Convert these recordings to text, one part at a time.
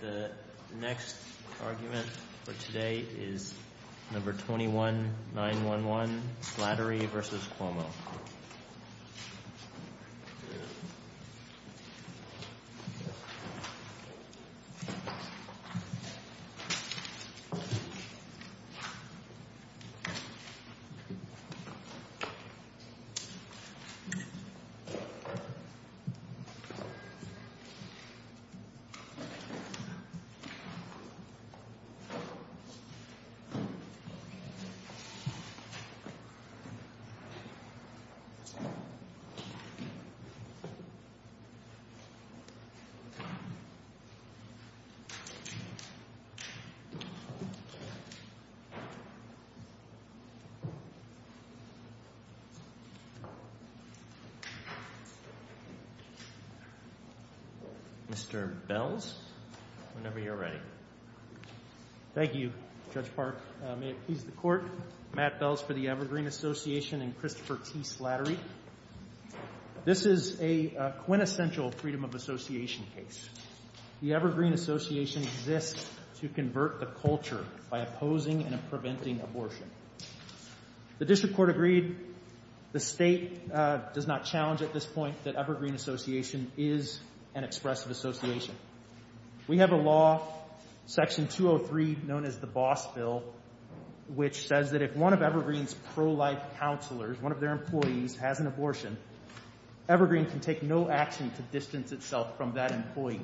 The next argument for today is No. 21-911, Slattery v. Cuomo. Thank you, Judge Park. May it please the Court, Matt Bells for the Evergreen Association and Christopher T. Slattery. This is a quintessential freedom of association case. The Evergreen Association exists to convert the culture by opposing and preventing abortion. The District Court agreed. The State does not challenge at this point that Evergreen Association is an expressive association. We have a law, Section 203, known as the Boss Bill, which says that if one of Evergreen's pro-life counselors, one of their employees, has an abortion, Evergreen can take no action to distance itself from that employee,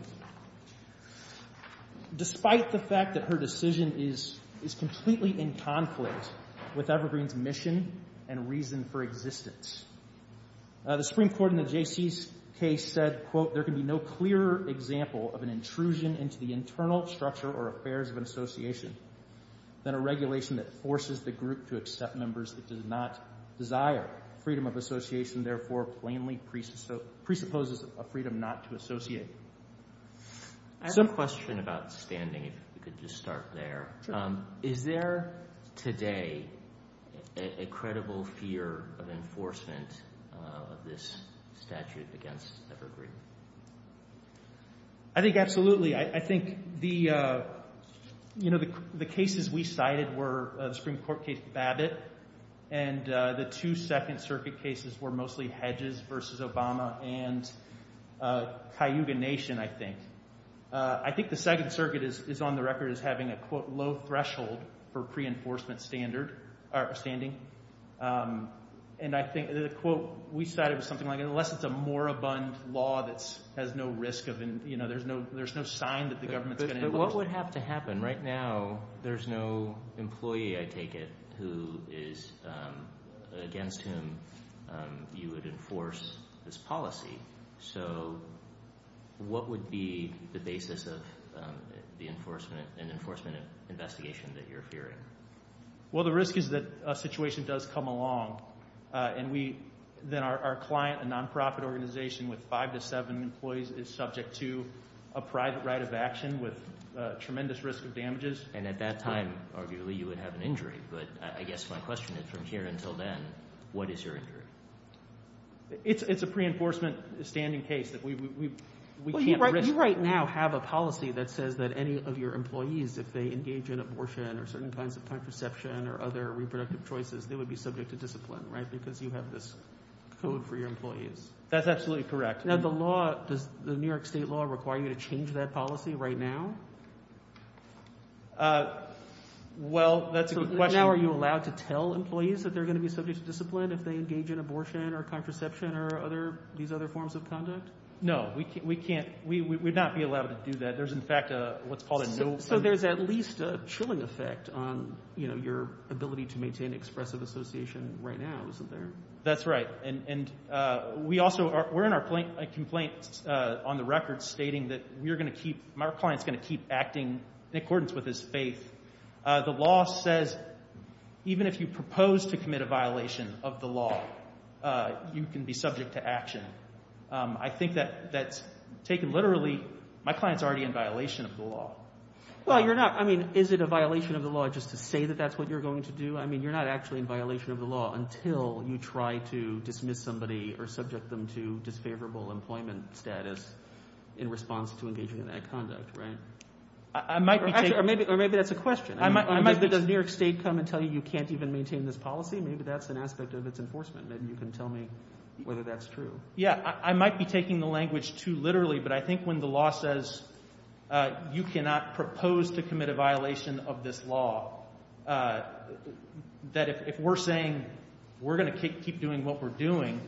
despite the fact that her decision is completely in conflict with Evergreen's mission and reason for existence. The Supreme Court in the J.C.'s case said, quote, There can be no clearer example of an intrusion into the internal structure or affairs of an association than a regulation that forces the group to accept members that do not desire freedom of association, therefore plainly presupposes a freedom not to associate. I have a question about standing, if we could just start there. Is there today a credible fear of enforcement of this statute against Evergreen? I think absolutely. I think the cases we cited were the Supreme Court case, Babbitt, and the two Second Circuit cases were mostly Hedges v. Obama and Cayuga Nation, I think. I think the Second Circuit is on the record as having a, quote, low threshold for pre-enforcement standing. And I think the quote we cited was something like, unless it's a moribund law that has no risk of, you know, there's no sign that the government's going to enforce it. What would be the basis of an enforcement investigation that you're fearing? Well, the risk is that a situation does come along, and then our client, a nonprofit organization with five to seven employees, is subject to a private right of action with tremendous risk of damages. And at that time, arguably, you would have an injury. But I guess my question is, from here until then, what is your injury? It's a pre-enforcement standing case that we can't risk. Well, you right now have a policy that says that any of your employees, if they engage in abortion or certain kinds of contraception or other reproductive choices, they would be subject to discipline, right? Because you have this code for your employees. That's absolutely correct. Now, the law – does the New York State law require you to change that policy right now? Well, that's a good question. So now are you allowed to tell employees that they're going to be subject to discipline if they engage in abortion or contraception or other – these other forms of conduct? No. We can't – we would not be allowed to do that. There's, in fact, what's called a no – So there's at least a chilling effect on, you know, your ability to maintain expressive association right now, isn't there? That's right. And we also – we're in our complaint on the record stating that we're going to keep – our client's going to keep acting in accordance with his faith. The law says even if you propose to commit a violation of the law, you can be subject to action. I think that that's taken literally – my client's already in violation of the law. Well, you're not – I mean, is it a violation of the law just to say that that's what you're going to do? I mean, you're not actually in violation of the law until you try to dismiss somebody or subject them to disfavorable employment status in response to engaging in that conduct, right? I might be taking – Or maybe that's a question. I might be – Does New York State come and tell you you can't even maintain this policy? Maybe that's an aspect of its enforcement. Maybe you can tell me whether that's true. Yeah, I might be taking the language too literally, but I think when the law says you cannot propose to commit a violation of this law, that if we're saying we're going to keep doing what we're doing,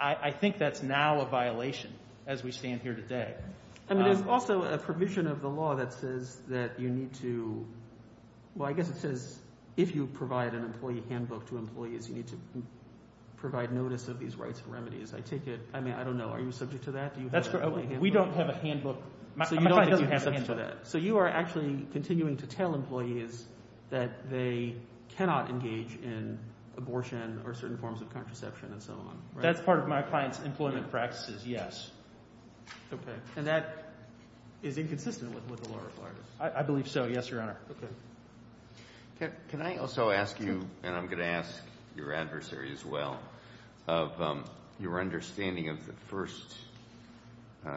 I think that's now a violation as we stand here today. I mean there's also a provision of the law that says that you need to – well, I guess it says if you provide an employee handbook to employees, you need to provide notice of these rights and remedies. I take it – I mean I don't know. Are you subject to that? That's correct. We don't have a handbook. My client doesn't have a handbook. So you are actually continuing to tell employees that they cannot engage in abortion or certain forms of contraception and so on, right? That's part of my client's employment practices, yes. Okay. And that is inconsistent with the law requires? I believe so, yes, Your Honor. Okay. Can I also ask you – and I'm going to ask your adversary as well – of your understanding of the first, I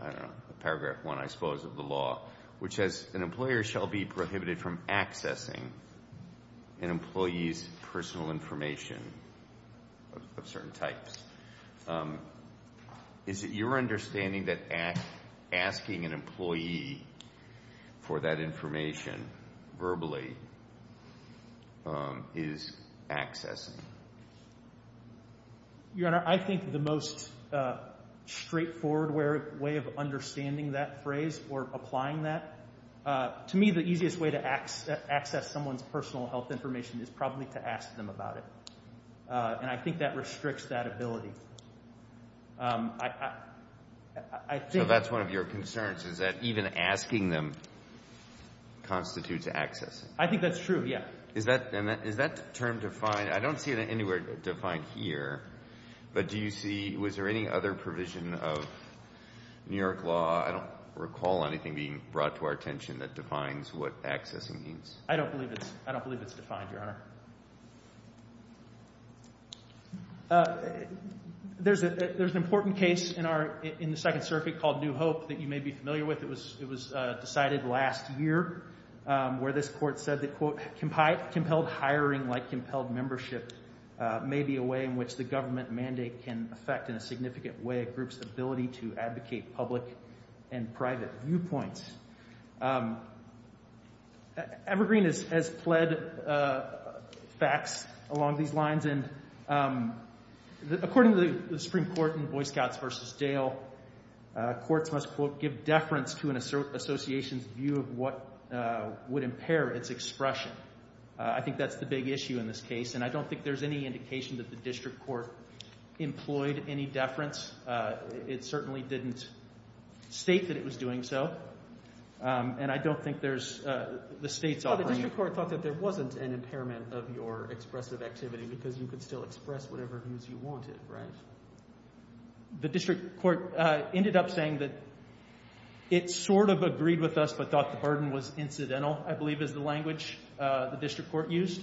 don't know, paragraph one, I suppose, of the law, which says an employer shall be prohibited from accessing an employee's personal information of certain types. Is it your understanding that asking an employee for that information verbally is accessing? Your Honor, I think the most straightforward way of understanding that phrase or applying that – to me, the easiest way to access someone's personal health information is probably to ask them about it. And I think that restricts that ability. So that's one of your concerns, is that even asking them constitutes accessing? I think that's true, yes. Is that term defined – I don't see it anywhere defined here, but do you see – was there any other provision of New York law – I don't recall anything being brought to our attention that defines what accessing means. I don't believe it's defined, Your Honor. There's an important case in the Second Circuit called New Hope that you may be familiar with. It was decided last year where this court said that, quote, compelled hiring like compelled membership may be a way in which the government mandate can affect in a significant way a group's ability to advocate public and private viewpoints. Evergreen has pled facts along these lines, and according to the Supreme Court in Boy Scouts v. Dale, courts must, quote, give deference to an association's view of what would impair its expression. I think that's the big issue in this case, and I don't think there's any indication that the district court employed any deference. It certainly didn't state that it was doing so, and I don't think there's – the state's offering – Well, the district court thought that there wasn't an impairment of your expressive activity because you could still express whatever views you wanted, right? The district court ended up saying that it sort of agreed with us but thought the burden was incidental, I believe, is the language the district court used.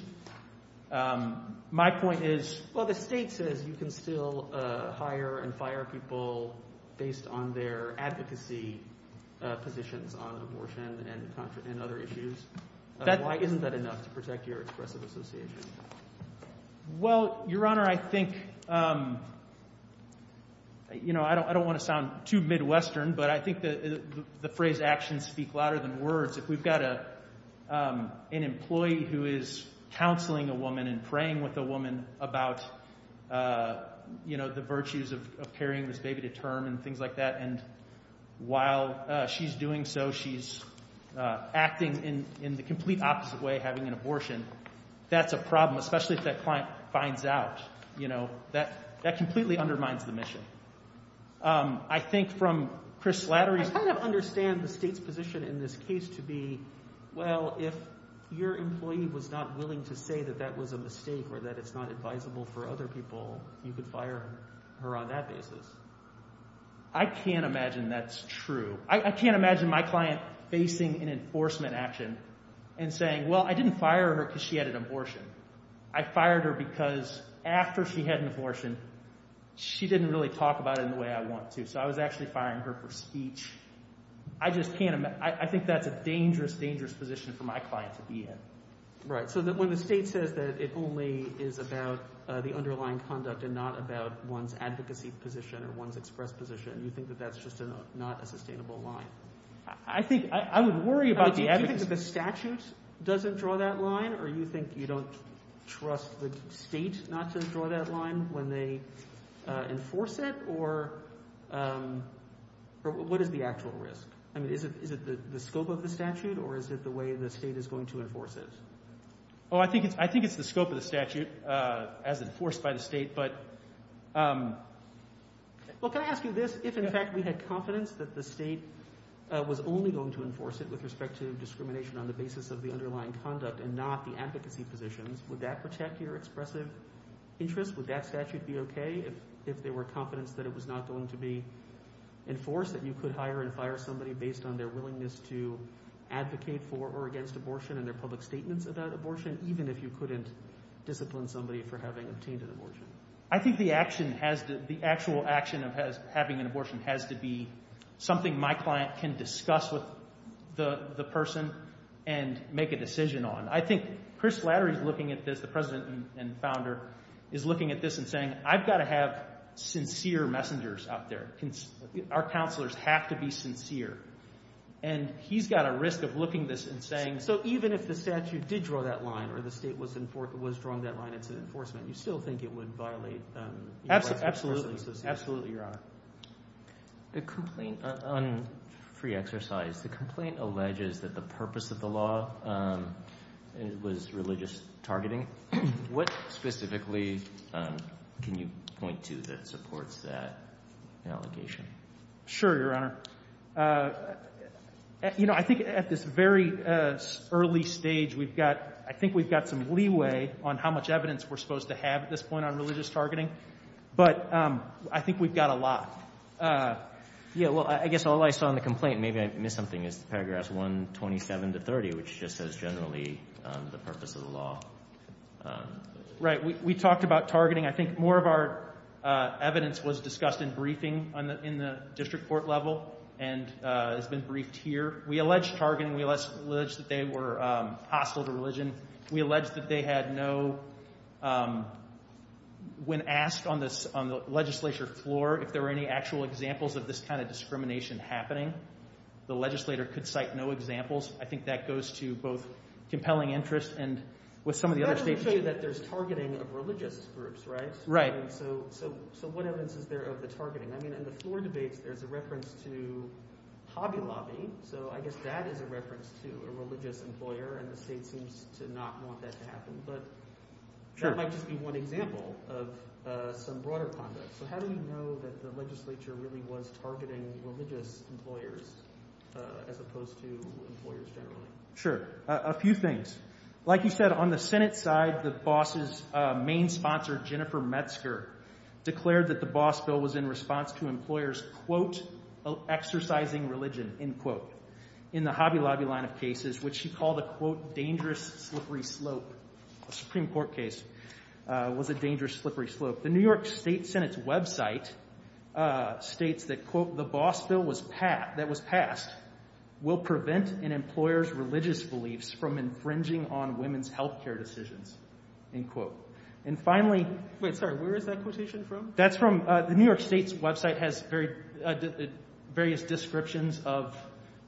My point is – Well, the state says you can still hire and fire people based on their advocacy positions on abortion and other issues. Why isn't that enough to protect your expressive association? Well, Your Honor, I think – I don't want to sound too Midwestern, but I think the phrase actions speak louder than words. If we've got an employee who is counseling a woman and praying with a woman about the virtues of carrying this baby to term and things like that, and while she's doing so, she's acting in the complete opposite way, having an abortion, that's a problem, especially if that client finds out. That completely undermines the mission. I think from Chris Slattery's – I kind of understand the state's position in this case to be, well, if your employee was not willing to say that that was a mistake or that it's not advisable for other people, you could fire her on that basis. I can't imagine that's true. I can't imagine my client facing an enforcement action and saying, well, I didn't fire her because she had an abortion. I fired her because after she had an abortion, she didn't really talk about it in the way I want to. So I was actually firing her for speech. I just can't – I think that's a dangerous, dangerous position for my client to be in. Right. So when the state says that it only is about the underlying conduct and not about one's advocacy position or one's express position, you think that that's just not a sustainable line? I think – I would worry about the advocacy – Do you think that the statute doesn't draw that line or you think you don't trust the state not to draw that line when they enforce it? Or what is the actual risk? I mean is it the scope of the statute or is it the way the state is going to enforce it? Oh, I think it's the scope of the statute as enforced by the state. But – well, can I ask you this? If, in fact, we had confidence that the state was only going to enforce it with respect to discrimination on the basis of the underlying conduct and not the advocacy positions, would that protect your expressive interest? Would that statute be okay if there were confidence that it was not going to be enforced, that you could hire and fire somebody based on their willingness to advocate for or against abortion and their public statements about abortion even if you couldn't discipline somebody for having obtained an abortion? I think the action has to – the actual action of having an abortion has to be something my client can discuss with the person and make a decision on. I think Chris Flattery is looking at this, the president and founder, is looking at this and saying I've got to have sincere messengers out there. Our counselors have to be sincere. And he's got a risk of looking at this and saying so even if the statute did draw that line or the state was drawing that line into enforcement, you still think it would violate the rights of the person associated with it? Absolutely. Absolutely, Your Honor. The complaint on free exercise, the complaint alleges that the purpose of the law was religious targeting. What specifically can you point to that supports that allegation? Sure, Your Honor. You know, I think at this very early stage we've got – I think we've got some leeway on how much evidence we're supposed to have at this point on religious targeting. But I think we've got a lot. Yeah, well, I guess all I saw in the complaint, maybe I missed something, is paragraph 127 to 30, which just says generally the purpose of the law. Right, we talked about targeting. I think more of our evidence was discussed in briefing in the district court level and has been briefed here. We allege targeting. We allege that they were hostile to religion. We allege that they had no – when asked on the legislature floor if there were any actual examples of this kind of discrimination happening, the legislator could cite no examples. I think that goes to both compelling interest and what some of the other states do. Well, that doesn't show you that there's targeting of religious groups, right? Right. So what evidence is there of the targeting? I mean in the floor debates, there's a reference to Hobby Lobby. So I guess that is a reference to a religious employer, and the state seems to not want that to happen. But that might just be one example of some broader conduct. So how do we know that the legislature really was targeting religious employers as opposed to employers generally? Sure. A few things. Like you said, on the Senate side, the boss's main sponsor, Jennifer Metzger, declared that the boss bill was in response to employers, quote, exercising religion, end quote, in the Hobby Lobby line of cases, which she called a, quote, dangerous slippery slope. A Supreme Court case was a dangerous slippery slope. End quote. The New York State Senate's website states that, quote, the boss bill that was passed will prevent an employer's religious beliefs from infringing on women's health care decisions, end quote. And finally – wait, sorry, where is that quotation from? That's from – the New York State's website has various descriptions of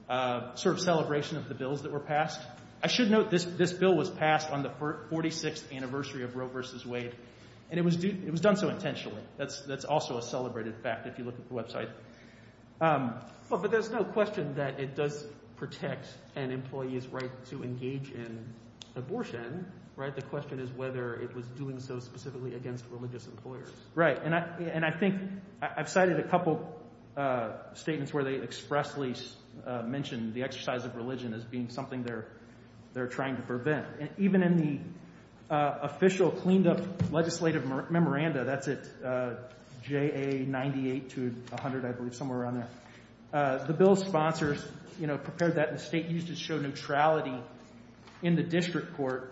sort of celebration of the bills that were passed. I should note this bill was passed on the 46th anniversary of Roe v. Wade, and it was done so intentionally. That's also a celebrated fact if you look at the website. But there's no question that it does protect an employee's right to engage in abortion. The question is whether it was doing so specifically against religious employers. Right. And I think – I've cited a couple statements where they expressly mentioned the exercise of religion as being something they're trying to prevent. And even in the official cleaned-up legislative memoranda – that's at JA 98 to 100, I believe, somewhere around there – the bill's sponsors prepared that, and the state used it to show neutrality in the district court.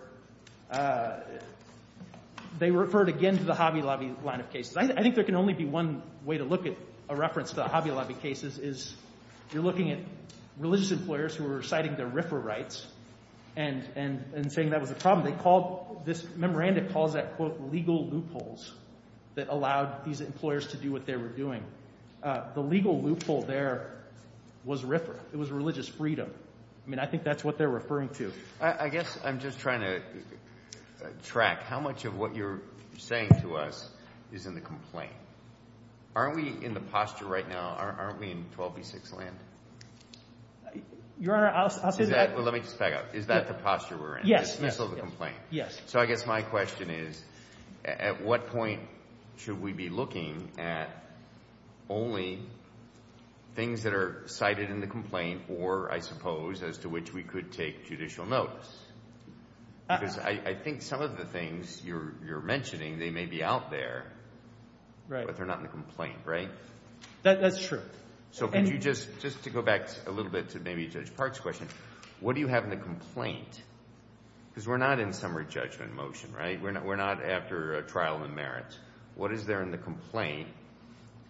They referred again to the Hobby Lobby line of cases. I think there can only be one way to look at a reference to the Hobby Lobby cases is you're looking at religious employers who are reciting their RFRA rights and saying that was a problem. They called – this memoranda calls that, quote, legal loopholes that allowed these employers to do what they were doing. The legal loophole there was RFRA. It was religious freedom. I mean I think that's what they're referring to. I guess I'm just trying to track how much of what you're saying to us is in the complaint. Aren't we in the posture right now – aren't we in 12b-6 land? Your Honor, I'll say that – Let me just back up. Is that the posture we're in? Yes. Yes. So I guess my question is at what point should we be looking at only things that are cited in the complaint or, I suppose, as to which we could take judicial notice? Because I think some of the things you're mentioning, they may be out there, but they're not in the complaint, right? That's true. So could you just – just to go back a little bit to maybe Judge Park's question, what do you have in the complaint? Because we're not in summary judgment motion, right? We're not after a trial in merit. What is there in the complaint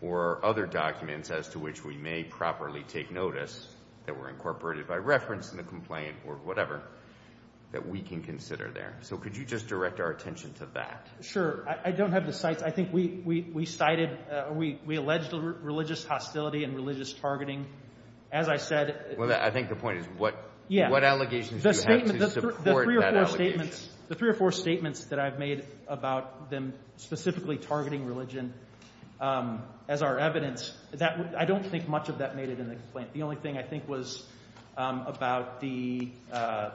or other documents as to which we may properly take notice that were incorporated by reference in the complaint or whatever that we can consider there? So could you just direct our attention to that? Sure. I don't have the cites. I think we cited – we alleged religious hostility and religious targeting. As I said – Well, I think the point is what allegations do you have to support that allegation? The three or four statements that I've made about them specifically targeting religion as our evidence, I don't think much of that made it in the complaint. The only thing I think was about the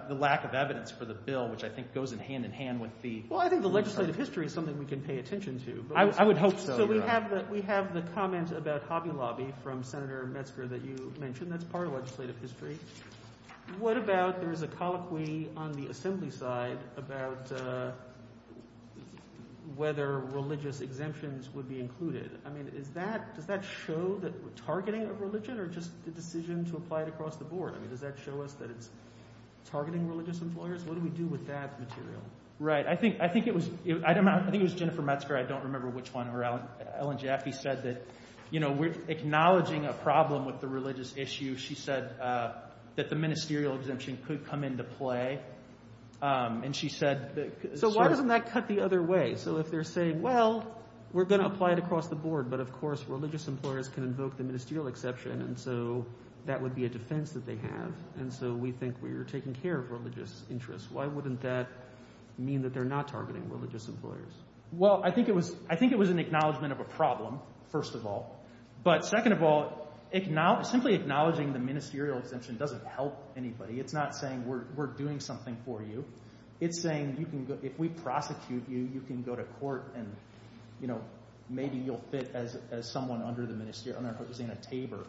lack of evidence for the bill, which I think goes hand in hand with the – Well, I think the legislative history is something we can pay attention to. I would hope so. So we have the comment about Hobby Lobby from Senator Metzger that you mentioned. That's part of legislative history. What about there is a colloquy on the assembly side about whether religious exemptions would be included? I mean is that – does that show that we're targeting a religion or just the decision to apply it across the board? I mean does that show us that it's targeting religious employers? What do we do with that material? Right. I think it was – I think it was Jennifer Metzger. I don't remember which one, or Ellen Jaffe said that we're acknowledging a problem with the religious issue. She said that the ministerial exemption could come into play, and she said – So why doesn't that cut the other way? So if they're saying, well, we're going to apply it across the board, but, of course, religious employers can invoke the ministerial exception. And so that would be a defense that they have, and so we think we're taking care of religious interests. Why wouldn't that mean that they're not targeting religious employers? Well, I think it was – I think it was an acknowledgment of a problem, first of all. But second of all, simply acknowledging the ministerial exemption doesn't help anybody. It's not saying we're doing something for you. It's saying you can – if we prosecute you, you can go to court and maybe you'll fit as someone under the ministerial – under Hosanna Tabor.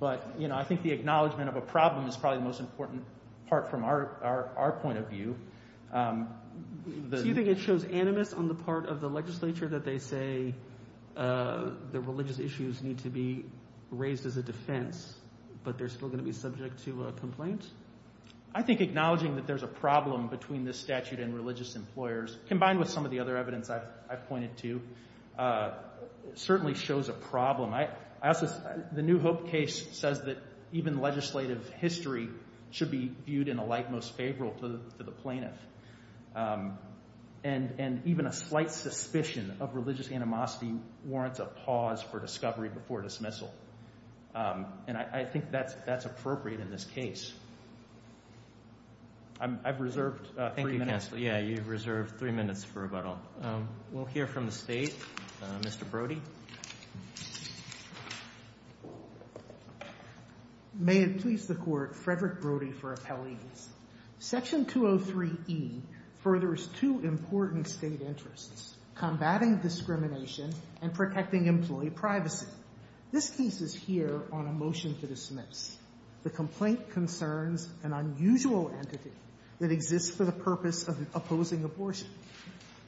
But I think the acknowledgment of a problem is probably the most important part from our point of view. Do you think it shows animus on the part of the legislature that they say the religious issues need to be raised as a defense, but they're still going to be subject to a complaint? I think acknowledging that there's a problem between this statute and religious employers, combined with some of the other evidence I've pointed to, certainly shows a problem. I also – the New Hope case says that even legislative history should be viewed in a light most favorable to the plaintiff. And even a slight suspicion of religious animosity warrants a pause for discovery before dismissal. And I think that's appropriate in this case. I've reserved three minutes. Thank you, counsel. Yeah, you've reserved three minutes for rebuttal. We'll hear from the State. Mr. Brody. May it please the Court, Frederick Brody for appellees. Section 203e furthers two important State interests, combating discrimination and protecting employee privacy. This piece is here on a motion to dismiss. The complaint concerns an unusual entity that exists for the purpose of opposing abortion.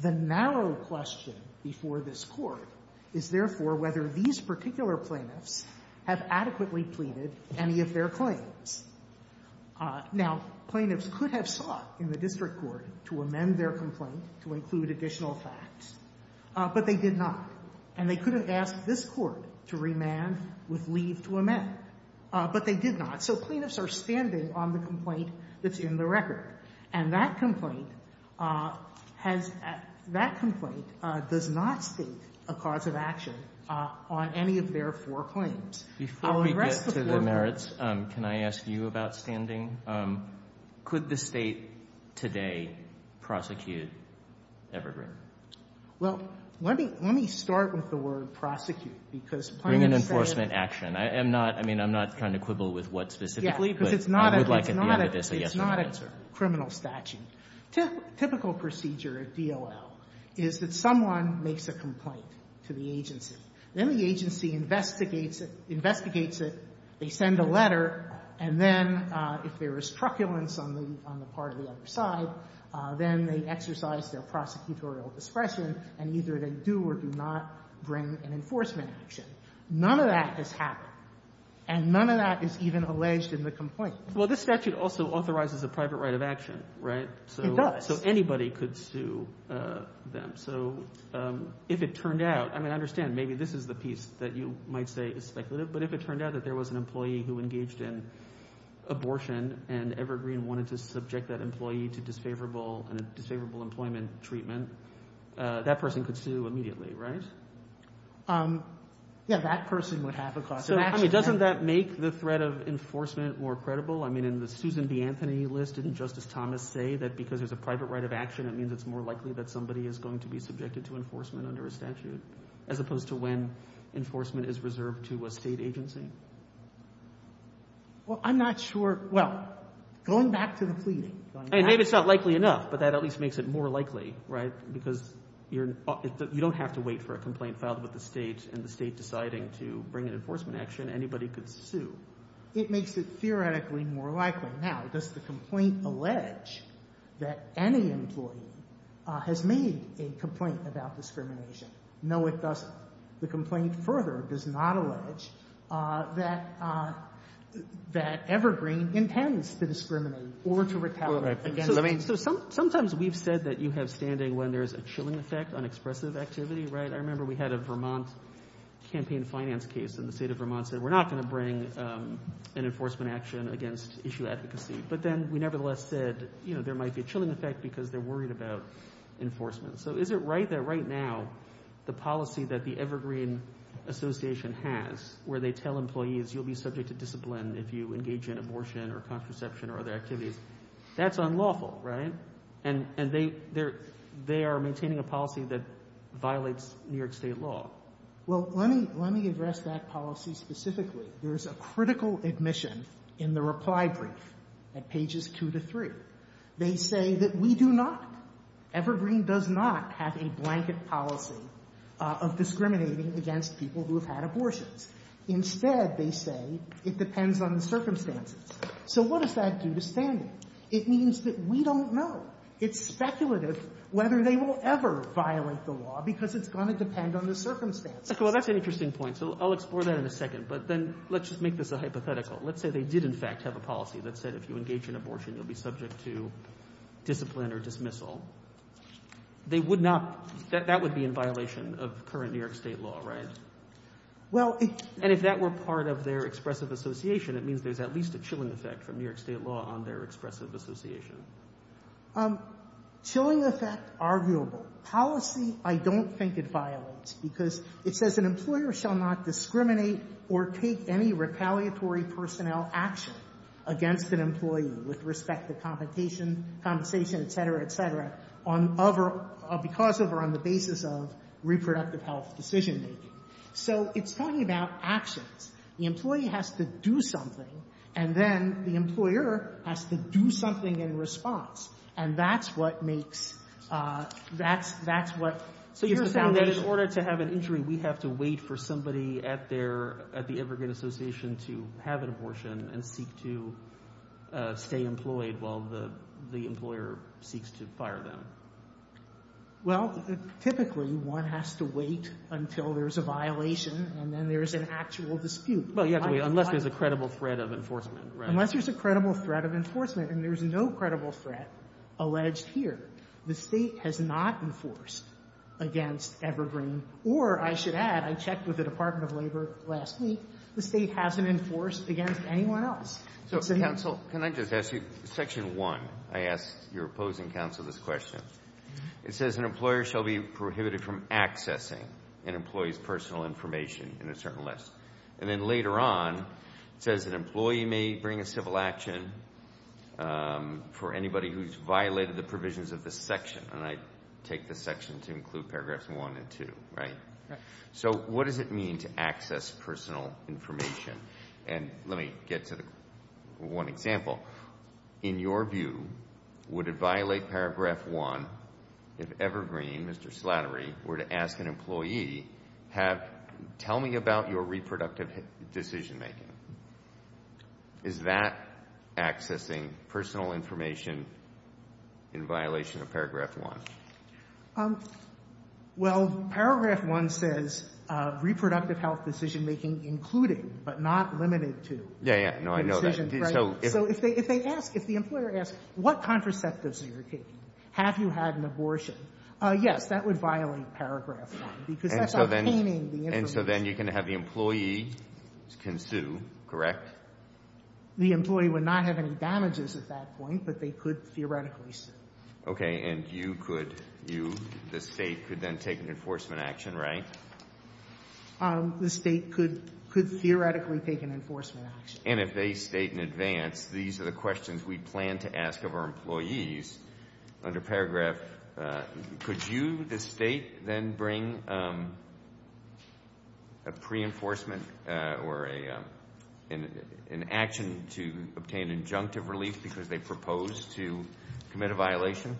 The narrow question before this Court is therefore whether these particular plaintiffs have adequately pleaded any of their claims. Now, plaintiffs could have sought in the district court to amend their complaint to include additional facts, but they did not. And they could have asked this Court to remand with leave to amend, but they did not. So plaintiffs are standing on the complaint that's in the record. And that complaint does not state a cause of action on any of their four claims. Before we get to the merits, can I ask you about standing? Could the State today prosecute Evergreen? Well, let me start with the word prosecute, because plaintiffs say it. Bring an enforcement action. I mean, I'm not trying to quibble with what specifically, but I would like at the end of this a yes or no answer. And I think that's a criminal statute. Typical procedure at DOL is that someone makes a complaint to the agency. Then the agency investigates it, they send a letter, and then if there is truculence on the part of the other side, then they exercise their prosecutorial discretion and either they do or do not bring an enforcement action. None of that has happened, and none of that is even alleged in the complaint. Well, this statute also authorizes a private right of action, right? It does. So anybody could sue them. So if it turned out, I mean, I understand maybe this is the piece that you might say is speculative, but if it turned out that there was an employee who engaged in abortion and Evergreen wanted to subject that employee to disfavorable employment treatment, that person could sue immediately, right? Yeah, that person would have a cause of action. So, I mean, doesn't that make the threat of enforcement more credible? I mean, in the Susan B. Anthony list, didn't Justice Thomas say that because there's a private right of action, it means it's more likely that somebody is going to be subjected to enforcement under a statute as opposed to when enforcement is reserved to a state agency? Well, I'm not sure. Well, going back to the pleading. Maybe it's not likely enough, but that at least makes it more likely, right, because you don't have to wait for a complaint filed with the state and the state deciding to bring an enforcement action, anybody could sue. It makes it theoretically more likely. Now, does the complaint allege that any employee has made a complaint about discrimination? No, it doesn't. The complaint further does not allege that Evergreen intends to discriminate or to retaliate against. So sometimes we've said that you have standing when there's a chilling effect, I remember we had a Vermont campaign finance case, and the state of Vermont said, we're not going to bring an enforcement action against issue advocacy. But then we nevertheless said there might be a chilling effect because they're worried about enforcement. So is it right that right now the policy that the Evergreen Association has, where they tell employees you'll be subject to discipline if you engage in abortion or contraception or other activities, that's unlawful, right? And they are maintaining a policy that violates New York State law. Well, let me address that policy specifically. There's a critical admission in the reply brief at pages two to three. They say that we do not, Evergreen does not have a blanket policy of discriminating against people who have had abortions. Instead, they say it depends on the circumstances. So what does that do to standing? It means that we don't know. It's speculative whether they will ever violate the law because it's going to depend on the circumstances. Well, that's an interesting point, so I'll explore that in a second. But then let's just make this a hypothetical. Let's say they did in fact have a policy that said if you engage in abortion, you'll be subject to discipline or dismissal. They would not – that would be in violation of current New York State law, right? And if that were part of their expressive association, it means there's at least a chilling effect from New York State law on their expressive association. Chilling effect, arguable. Policy, I don't think it violates because it says an employer shall not discriminate or take any retaliatory personnel action against an employee with respect to compensation, et cetera, et cetera, because of or on the basis of reproductive health decision-making. So it's talking about actions. The employee has to do something, and then the employer has to do something in response. And that's what makes – that's what – So you're saying that in order to have an injury, we have to wait for somebody at their – at the immigrant association to have an abortion and seek to stay employed while the employer seeks to fire them? Well, typically one has to wait until there's a violation, and then there's an actual dispute. Well, you have to wait unless there's a credible threat of enforcement, right? Unless there's a credible threat of enforcement, and there's no credible threat alleged here. The State has not enforced against Evergreen. Or I should add, I checked with the Department of Labor last week. The State hasn't enforced against anyone else. So, counsel, can I just ask you section 1? I asked your opposing counsel this question. It says an employer shall be prohibited from accessing an employee's personal information in a certain list. And then later on it says an employee may bring a civil action for anybody who's violated the provisions of this section. And I take this section to include paragraphs 1 and 2, right? Right. So what does it mean to access personal information? And let me get to one example. In your view, would it violate paragraph 1 if Evergreen, Mr. Slattery, were to ask an employee, tell me about your reproductive decision making? Is that accessing personal information in violation of paragraph 1? Well, paragraph 1 says reproductive health decision making including, but not limited to. Yeah, yeah. No, I know that. So if they ask, if the employer asks, what contraceptives are you taking? Have you had an abortion? Yes, that would violate paragraph 1 because that's obtaining the information. And so then you can have the employee can sue, correct? The employee would not have any damages at that point, but they could theoretically sue. Okay. And you could, you, the State, could then take an enforcement action, right? The State could theoretically take an enforcement action. And if they state in advance, these are the questions we plan to ask of our employees, under paragraph, could you, the State, then bring a pre-enforcement or an action to obtain injunctive relief because they propose to commit a violation?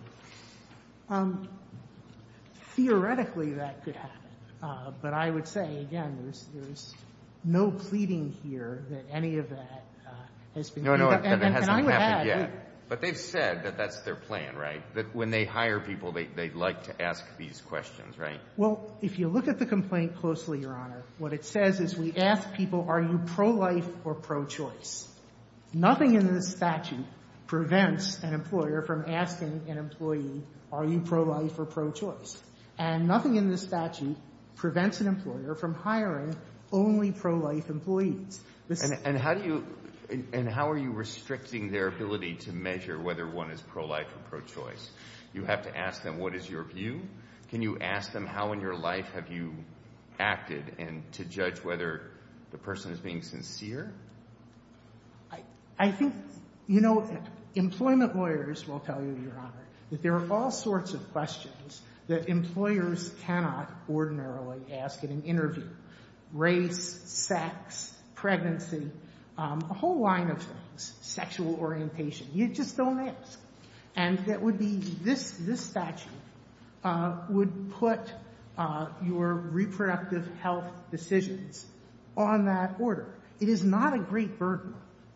Theoretically, that could happen. But I would say, again, there's no pleading here that any of that has been done. No, no, and it hasn't happened yet. But they've said that that's their plan, right? That when they hire people, they'd like to ask these questions, right? Well, if you look at the complaint closely, Your Honor, what it says is we ask people, are you pro-life or pro-choice? Nothing in this statute prevents an employer from asking an employee, are you pro-life or pro-choice? And nothing in this statute prevents an employer from hiring only pro-life employees. And how do you, and how are you restricting their ability to measure whether one is pro-life or pro-choice? You have to ask them, what is your view? Can you ask them, how in your life have you acted, and to judge whether the person is being sincere? I think, you know, employment lawyers will tell you, Your Honor, that there are all sorts of questions that employers cannot ordinarily ask in an interview, race, sex, pregnancy, a whole line of things, sexual orientation. You just don't ask. And that would be, this statute would put your reproductive health decisions on that order. It is not a great burden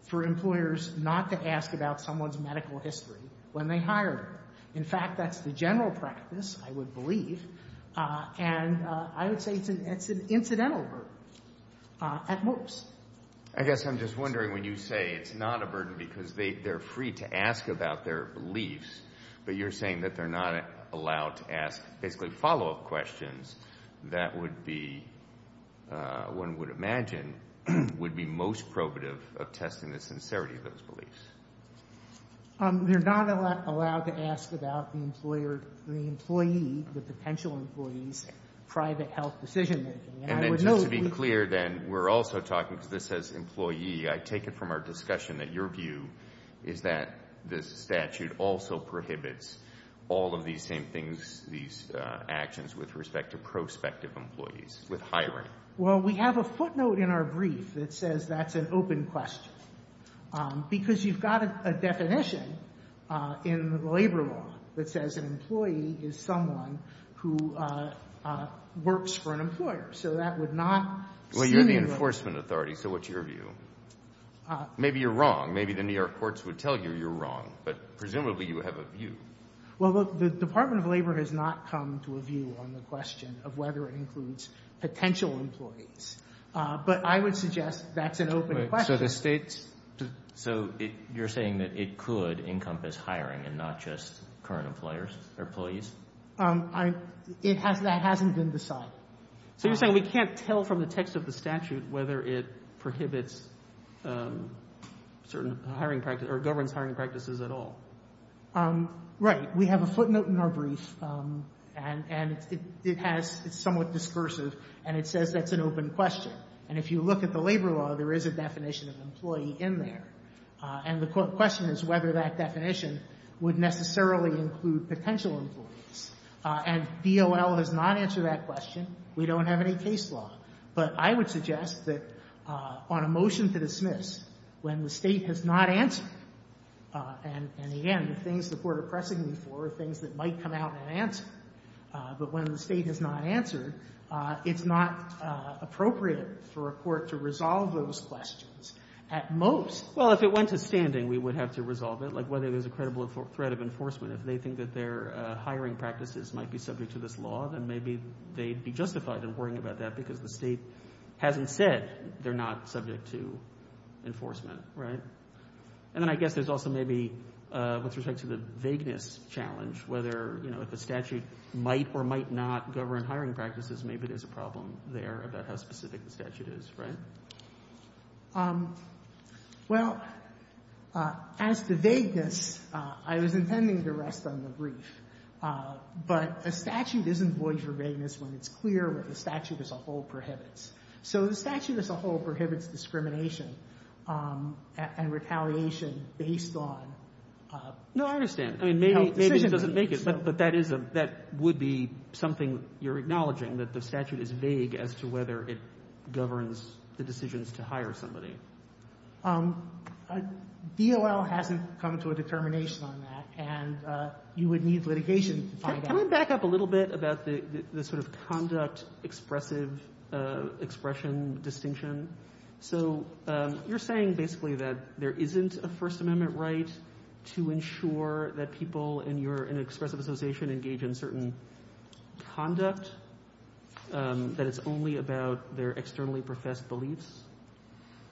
for employers not to ask about someone's medical history when they hire them. In fact, that's the general practice, I would believe, and I would say it's an incidental burden at most. I guess I'm just wondering when you say it's not a burden because they're free to ask about their beliefs, but you're saying that they're not allowed to ask basically follow-up questions that would be, one would imagine, would be most probative of testing the sincerity of those beliefs. They're not allowed to ask about the employer, the employee, the potential employee's private health decision-making. And then just to be clear, then, we're also talking, because this says employee, I take it from our discussion that your view is that this statute also prohibits all of these same things, these actions, with respect to prospective employees with hiring. Well, we have a footnote in our brief that says that's an open question. Because you've got a definition in the labor law that says an employee is someone who works for an employer. So that would not seem to be... Well, you're the enforcement authority, so what's your view? Maybe you're wrong. Maybe the New York courts would tell you you're wrong. But presumably you have a view. Well, look, the Department of Labor has not come to a view on the question of whether it includes potential employees. But I would suggest that's an open question. So the state's... So you're saying that it could encompass hiring and not just current employers or employees? That hasn't been decided. So you're saying we can't tell from the text of the statute whether it prohibits certain hiring practices or governs hiring practices at all? Right. We have a footnote in our brief, and it's somewhat discursive, and it says that's an open question. And if you look at the labor law, there is a definition of employee in there. And the question is whether that definition would necessarily include potential employees. And DOL has not answered that question. We don't have any case law. But I would suggest that on a motion to dismiss, when the state has not answered and, again, the things the court are pressing me for are things that might come out and answer. But when the state has not answered, it's not appropriate for a court to resolve those questions at most. Well, if it went to standing, we would have to resolve it, like whether there's a credible threat of enforcement. If they think that their hiring practices might be subject to this law, then maybe they'd be justified in worrying about that because the state hasn't said they're not subject to enforcement. Right? And then I guess there's also maybe with respect to the vagueness challenge, whether, you know, if a statute might or might not govern hiring practices, maybe there's a problem there about how specific the statute is. Right? Well, as to vagueness, I was intending to rest on the brief. But a statute isn't void for vagueness when it's clear what the statute as a whole prohibits. So the statute as a whole prohibits discrimination and retaliation based on how decision-making No, I understand. I mean, maybe it doesn't make it, but that would be something you're acknowledging, that the statute is vague as to whether it governs the decisions to hire somebody. DOL hasn't come to a determination on that, and you would need litigation to find out. Can we back up a little bit about the sort of conduct expressive expression distinction? So you're saying basically that there isn't a First Amendment right to ensure that people in your expressive association engage in certain conduct,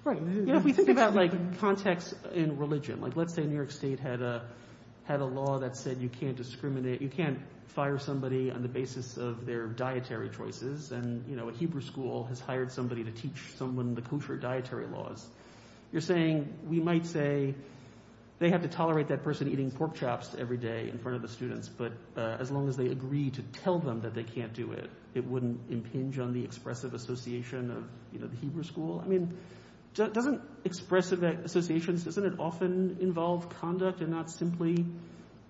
Right, you know, if we think about, like, context in religion, like let's say New York State had a law that said you can't discriminate, you can't fire somebody on the basis of their dietary choices, and, you know, a Hebrew school has hired somebody to teach someone the kosher dietary laws. You're saying we might say they have to tolerate that person eating pork chops every day in front of the students, but as long as they agree to tell them that they can't do it, it wouldn't impinge on the expressive association of, you know, the Hebrew school? I mean, doesn't expressive association, doesn't it often involve conduct and not simply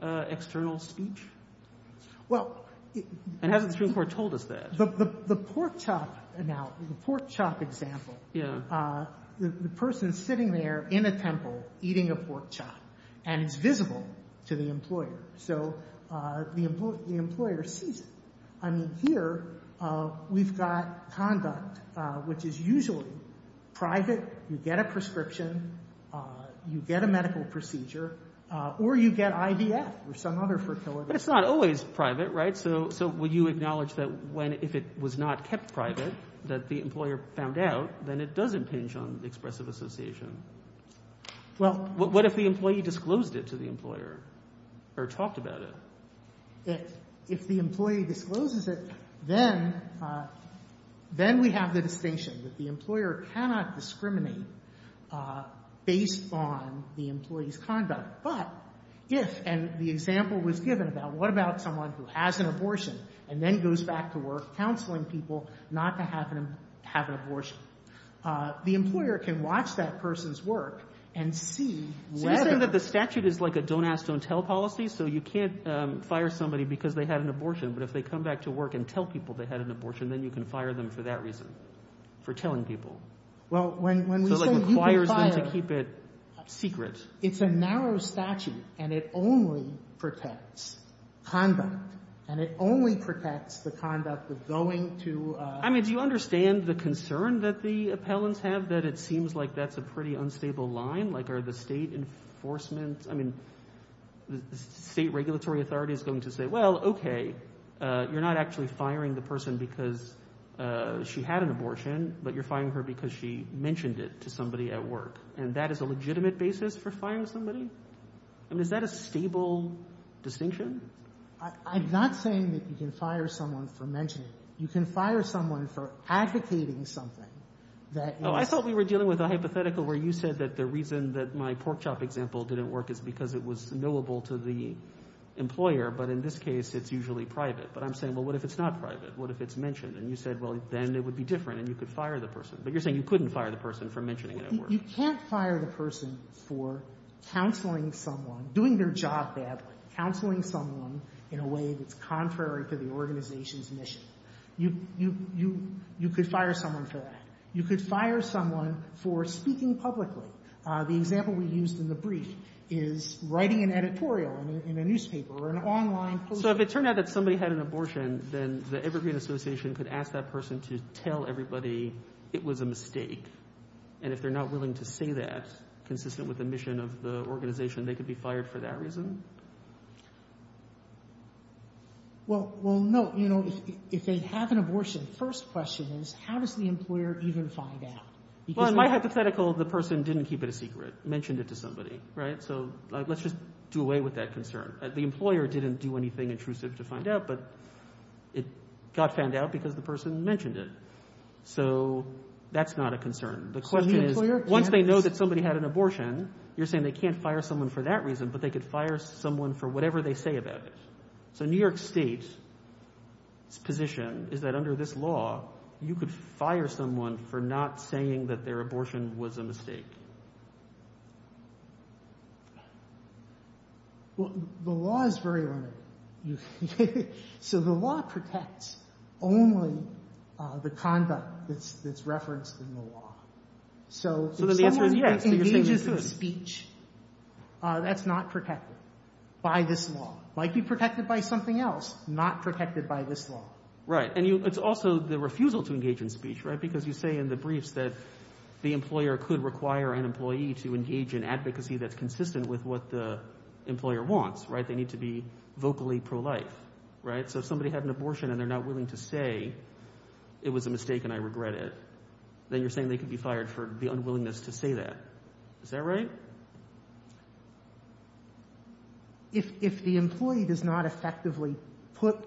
external speech? And hasn't the Supreme Court told us that? The pork chop example, the person sitting there in a temple eating a pork chop, and it's visible to the employer, so the employer sees it. I mean, here we've got conduct, which is usually private, you get a prescription, you get a medical procedure, or you get IVF or some other fertility. But it's not always private, right? So would you acknowledge that if it was not kept private, that the employer found out, then it does impinge on the expressive association? Well, What if the employee disclosed it to the employer or talked about it? If the employee discloses it, then we have the distinction that the employer cannot discriminate based on the employee's conduct. But if, and the example was given about what about someone who has an abortion and then goes back to work counseling people not to have an abortion, the employer can watch that person's work and see whether I understand that the statute is like a don't ask, don't tell policy, so you can't fire somebody because they had an abortion, but if they come back to work and tell people they had an abortion, then you can fire them for that reason, for telling people. Well, when we say you can fire, it's a narrow statute, and it only protects conduct, and it only protects the conduct of going to I mean, do you understand the concern that the appellants have, that it seems like that's a pretty unstable line? Like are the state enforcement, I mean, the state regulatory authority is going to say, well, okay, you're not actually firing the person because she had an abortion, but you're firing her because she mentioned it to somebody at work, and that is a legitimate basis for firing somebody? I mean, is that a stable distinction? I'm not saying that you can fire someone for mentioning it. You can fire someone for advocating something that I thought we were dealing with a hypothetical where you said that the reason that my pork chop example didn't work is because it was knowable to the employer, but in this case it's usually private. But I'm saying, well, what if it's not private? What if it's mentioned? And you said, well, then it would be different, and you could fire the person. But you're saying you couldn't fire the person for mentioning it at work. You can't fire the person for counseling someone, doing their job badly, counseling someone in a way that's contrary to the organization's mission. You could fire someone for that. You could fire someone for speaking publicly. The example we used in the brief is writing an editorial in a newspaper or an online post. So if it turned out that somebody had an abortion, then the Evergreen Association could ask that person to tell everybody it was a mistake. And if they're not willing to say that, consistent with the mission of the organization, they could be fired for that reason? Well, no. If they have an abortion, the first question is, how does the employer even find out? Well, in my hypothetical, the person didn't keep it a secret, mentioned it to somebody. So let's just do away with that concern. The employer didn't do anything intrusive to find out, but it got found out because the person mentioned it. So that's not a concern. The question is, once they know that somebody had an abortion, you're saying they can't fire someone for that reason, but they could fire someone for whatever they say about it. So New York State's position is that under this law, you could fire someone for not saying that their abortion was a mistake. Well, the law is very limited. So the law protects only the conduct that's referenced in the law. So if someone engages in speech, that's not protected by this law. It might be protected by something else, not protected by this law. Right. And it's also the refusal to engage in speech, right, because you say in the briefs that the employer could require an employee to engage in advocacy that's consistent with what the employer wants, right? They need to be vocally pro-life, right? So if somebody had an abortion and they're not willing to say it was a mistake and I regret it, then you're saying they could be fired for the unwillingness to say that. Is that right? If the employee does not effectively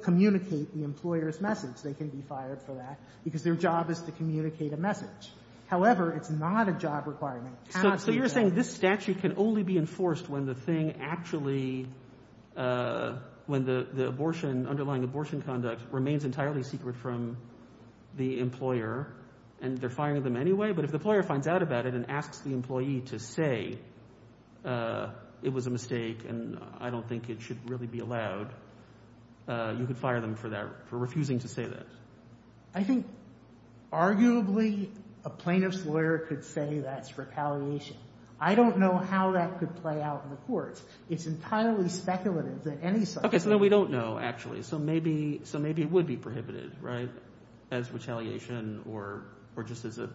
communicate the employer's message, they can be fired for that because their job is to communicate a message. However, it's not a job requirement. So you're saying this statute can only be enforced when the thing actually – when the abortion, underlying abortion conduct remains entirely secret from the employer and they're firing them anyway? But if the employer finds out about it and asks the employee to say it was a mistake and I don't think it should really be allowed, you could fire them for that, for refusing to say that. I think arguably a plaintiff's lawyer could say that's retaliation. I don't know how that could play out in the courts. It's entirely speculative that any such – Okay. So then we don't know actually. So maybe it would be prohibited, right, as retaliation or just as a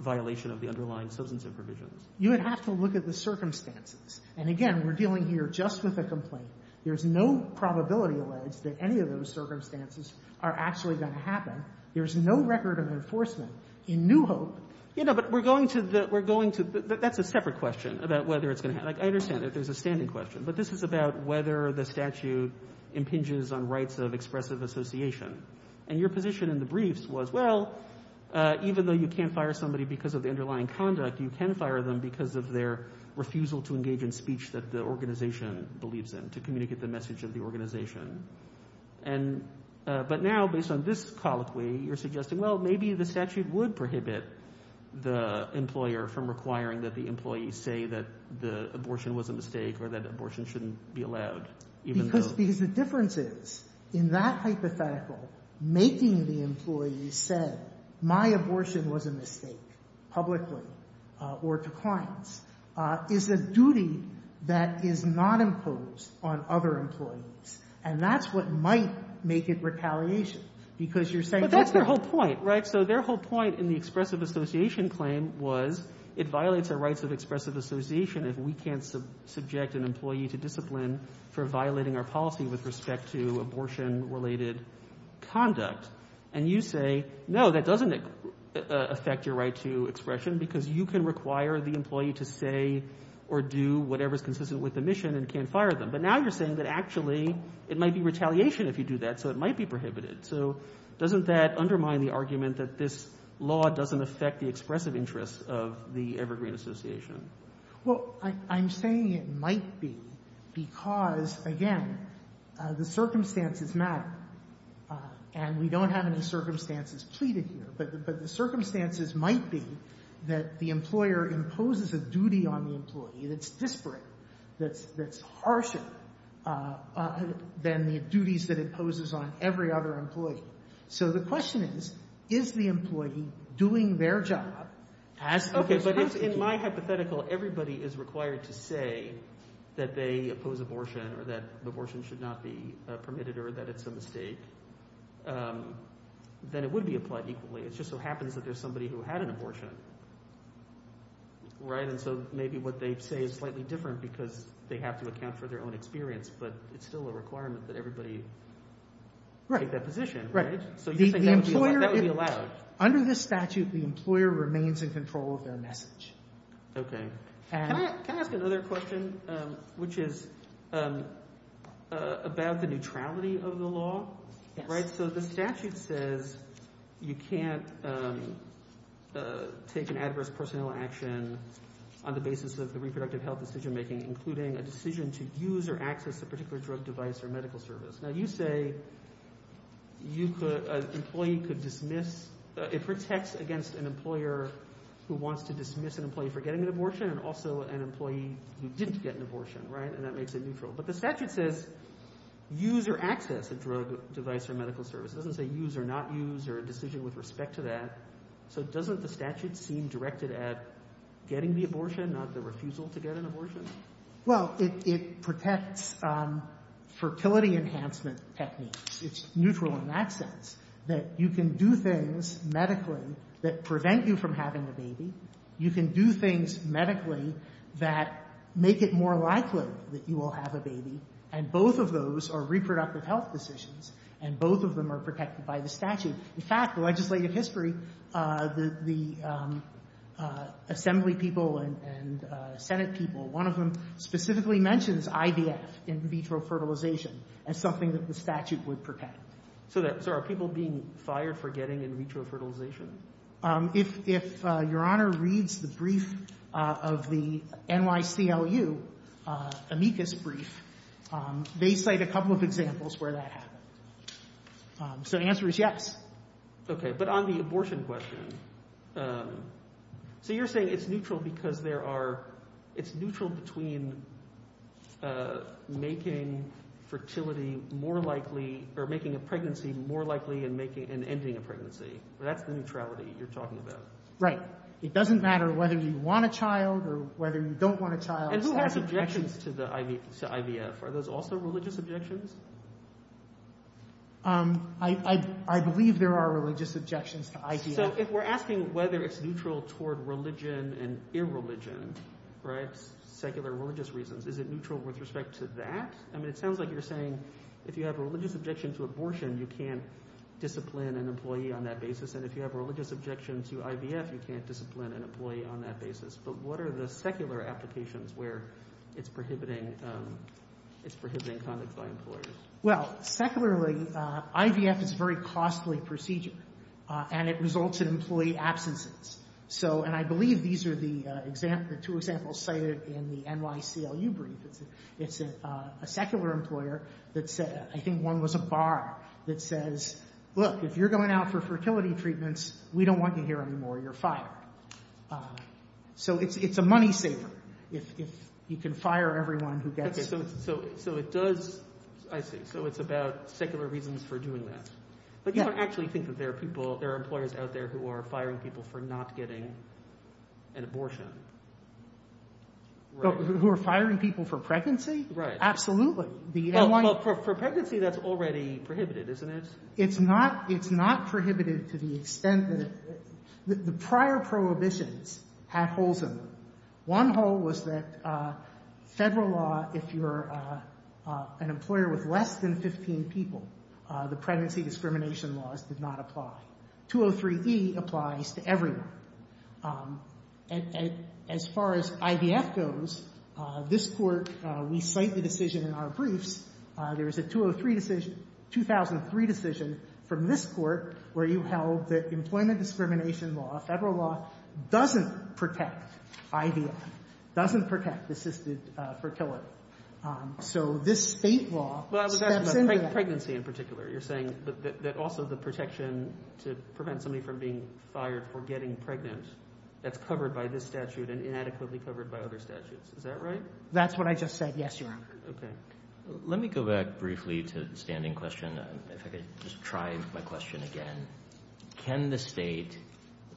violation of the underlying substantive provisions. You would have to look at the circumstances. And again, we're dealing here just with a complaint. There's no probability alleged that any of those circumstances are actually going to happen. There's no record of enforcement in New Hope. But we're going to – that's a separate question about whether it's going to happen. I understand that. There's a standing question. But this is about whether the statute impinges on rights of expressive association. And your position in the briefs was, well, even though you can't fire somebody because of the underlying conduct, you can fire them because of their refusal to engage in speech that the organization believes in, to communicate the message of the organization. But now, based on this colloquy, you're suggesting, well, maybe the statute would prohibit the employer from requiring that the employee say that the abortion was a mistake or that abortion shouldn't be allowed. Because the difference is, in that hypothetical, making the employee say, my abortion was a mistake publicly or to clients is a duty that is not imposed on other employees. And that's what might make it retaliation because you're saying – But that's their whole point, right? So their whole point in the expressive association claim was it violates our rights of expressive association if we can't subject an employee to discipline for violating our policy with respect to abortion-related conduct. And you say, no, that doesn't affect your right to expression because you can require the employee to say or do whatever is consistent with the mission and can't fire them. But now you're saying that actually it might be retaliation if you do that, so it might be prohibited. So doesn't that undermine the argument that this law doesn't affect the expressive interests of the Evergreen Association? Well, I'm saying it might be because, again, the circumstances matter. And we don't have any circumstances pleaded here. But the circumstances might be that the employer imposes a duty on the employee that's disparate, that's harsher than the duties that it imposes on every other employee. So the question is, is the employee doing their job as opposed to – Okay, but if in my hypothetical everybody is required to say that they oppose abortion or that abortion should not be permitted or that it's a mistake, then it would be applied equally. It just so happens that there's somebody who had an abortion, right? And so maybe what they say is slightly different because they have to account for their own experience. But it's still a requirement that everybody take that position, right? So you're saying that would be allowed? Under this statute, the employer remains in control of their message. Okay. Can I ask another question, which is about the neutrality of the law? So the statute says you can't take an adverse personnel action on the basis of the reproductive health decision-making, including a decision to use or access a particular drug, device, or medical service. Now you say an employee could dismiss – it protects against an employer who wants to dismiss an employee for getting an abortion and also an employee who didn't get an abortion, right? And that makes it neutral. But the statute says use or access a drug, device, or medical service. It doesn't say use or not use or a decision with respect to that. So doesn't the statute seem directed at getting the abortion, not the refusal to get an abortion? Well, it protects fertility enhancement techniques. It's neutral in that sense that you can do things medically that prevent you from having a baby. You can do things medically that make it more likely that you will have a baby. And both of those are reproductive health decisions, and both of them are protected by the statute. In fact, the legislative history, the assembly people and Senate people, one of them specifically mentions IVF, in vitro fertilization, as something that the statute would protect. So are people being fired for getting in vitro fertilization? If Your Honor reads the brief of the NYCLU amicus brief, they cite a couple of examples where that happened. So the answer is yes. Okay. But on the abortion question, so you're saying it's neutral because there are – it's neutral between making fertility more likely or making a pregnancy more likely and ending a pregnancy. That's the neutrality you're talking about. Right. It doesn't matter whether you want a child or whether you don't want a child. And who has objections to IVF? Are those also religious objections? I believe there are religious objections to IVF. So if we're asking whether it's neutral toward religion and irreligion, right, secular religious reasons, is it neutral with respect to that? I mean, it sounds like you're saying if you have a religious objection to abortion, you can't discipline an employee on that basis. And if you have a religious objection to IVF, you can't discipline an employee on that basis. But what are the secular applications where it's prohibiting conduct by employers? Well, secularly, IVF is a very costly procedure, and it results in employee absences. And I believe these are the two examples cited in the NYCLU brief. It's a secular employer that said – I think one was a bar that says, look, if you're going out for fertility treatments, we don't want you here anymore. You're fired. So it's a money saver if you can fire everyone who gets it. Okay. So it does – I see. So it's about secular reasons for doing that. But you don't actually think that there are people – there are employers out there who are firing people for not getting an abortion, right? Who are firing people for pregnancy? Right. Absolutely. Well, for pregnancy, that's already prohibited, isn't it? It's not prohibited to the extent that – the prior prohibitions had holes in them. One hole was that federal law, if you're an employer with less than 15 people, the pregnancy discrimination laws did not apply. 203e applies to everyone. And as far as IVF goes, this Court, we cite the decision in our briefs. There was a 2003 decision from this Court where you held that employment discrimination law, federal law, doesn't protect IVF, doesn't protect assisted fertility. So this State law steps into that. And pregnancy in particular. You're saying that also the protection to prevent somebody from being fired for getting pregnant, that's covered by this statute and inadequately covered by other statutes. Is that right? That's what I just said, yes, Your Honor. Okay. Let me go back briefly to the standing question, if I could just try my question again. Can the State,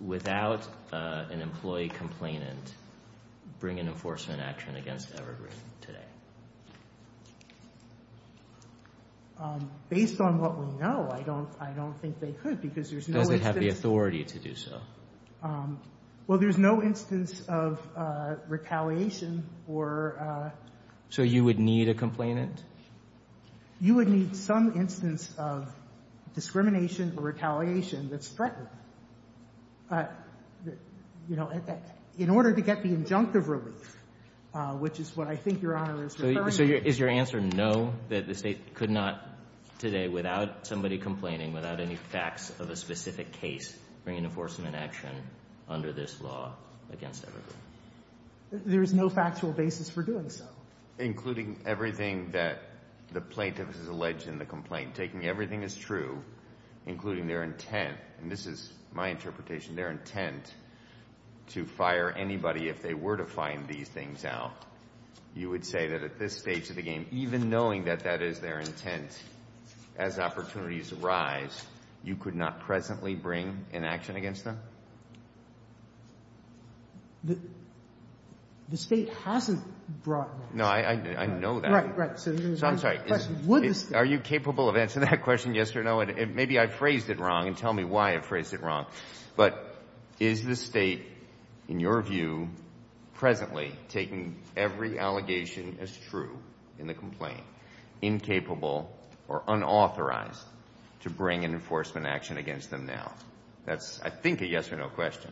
without an employee complainant, bring an enforcement action against Evergreen today? Based on what we know, I don't think they could because there's no instance. Does it have the authority to do so? Well, there's no instance of retaliation or – So you would need a complainant? You would need some instance of discrimination or retaliation that's threatened, you know, in order to get the injunctive relief, which is what I think Your Honor is referring to. So is your answer no, that the State could not today, without somebody complaining, without any facts of a specific case, bring an enforcement action under this law against Evergreen? There is no factual basis for doing so. Including everything that the plaintiff has alleged in the complaint, taking everything that's true, including their intent, and this is my interpretation, their intent to fire anybody if they were to find these things out, you would say that at this stage of the game, even knowing that that is their intent, as opportunities arise, you could not presently bring an action against them? The State hasn't brought that. No, I know that. Right, right. So I'm sorry. Are you capable of answering that question, yes or no? Maybe I phrased it wrong, and tell me why I phrased it wrong. But is the State, in your view, presently taking every allegation as true in the complaint, incapable or unauthorized to bring an enforcement action against them that's, I think, a yes or no question?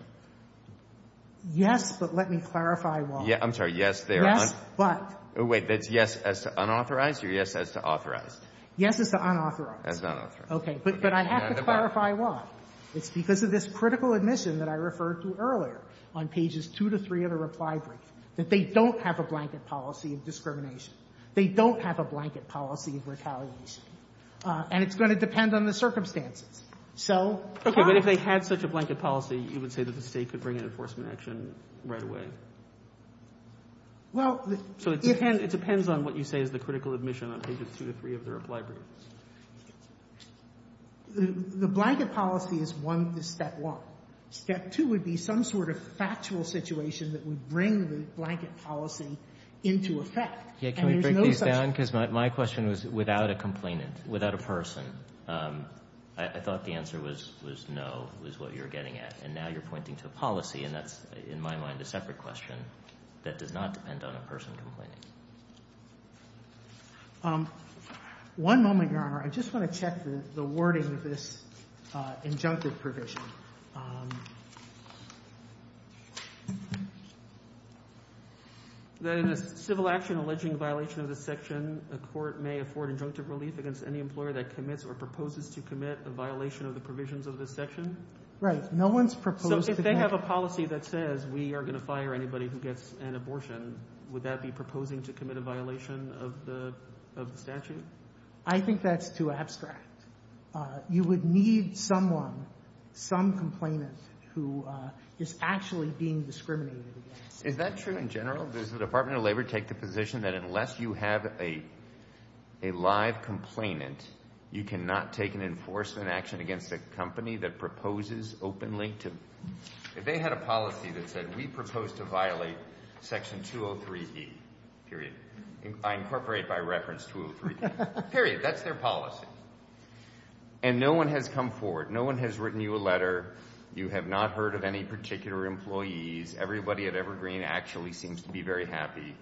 Yes, but let me clarify why. I'm sorry. Yes, but. Wait. That's yes as to unauthorized or yes as to authorized? Yes as to unauthorized. As to unauthorized. Okay. But I have to clarify why. It's because of this critical admission that I referred to earlier on pages 2 to 3 of the reply brief, that they don't have a blanket policy of discrimination. They don't have a blanket policy of retaliation. And it's going to depend on the circumstances. So. Okay. But if they had such a blanket policy, you would say that the State could bring an enforcement action right away? Well, the. So it depends on what you say is the critical admission on pages 2 to 3 of the reply brief. The blanket policy is one, is step one. Step two would be some sort of factual situation that would bring the blanket policy into effect. And there's no such. Can we break these down? Because my question was without a complainant, without a person. I thought the answer was no was what you're getting at. And now you're pointing to a policy and that's in my mind a separate question that does not depend on a person complaining. One moment, Your Honor. I just want to check the wording of this injunctive provision. That in a civil action alleging violation of the section, a court may afford injunctive relief against any employer that commits or proposes to commit a violation of the provisions of the section? Right. No one's proposed. So if they have a policy that says we are going to fire anybody who gets an abortion, would that be proposing to commit a violation of the statute? I think that's too abstract. You would need someone, some complainant who is actually being discriminated against. Is that true in general? Well, does the Department of Labor take the position that unless you have a live complainant, you cannot take an enforcement action against a company that proposes openly to? If they had a policy that said we propose to violate section 203B, period, I incorporate by reference 203B, period. That's their policy. And no one has come forward. No one has written you a letter. You have not heard of any particular employees. Everybody at Evergreen actually seems to be very happy.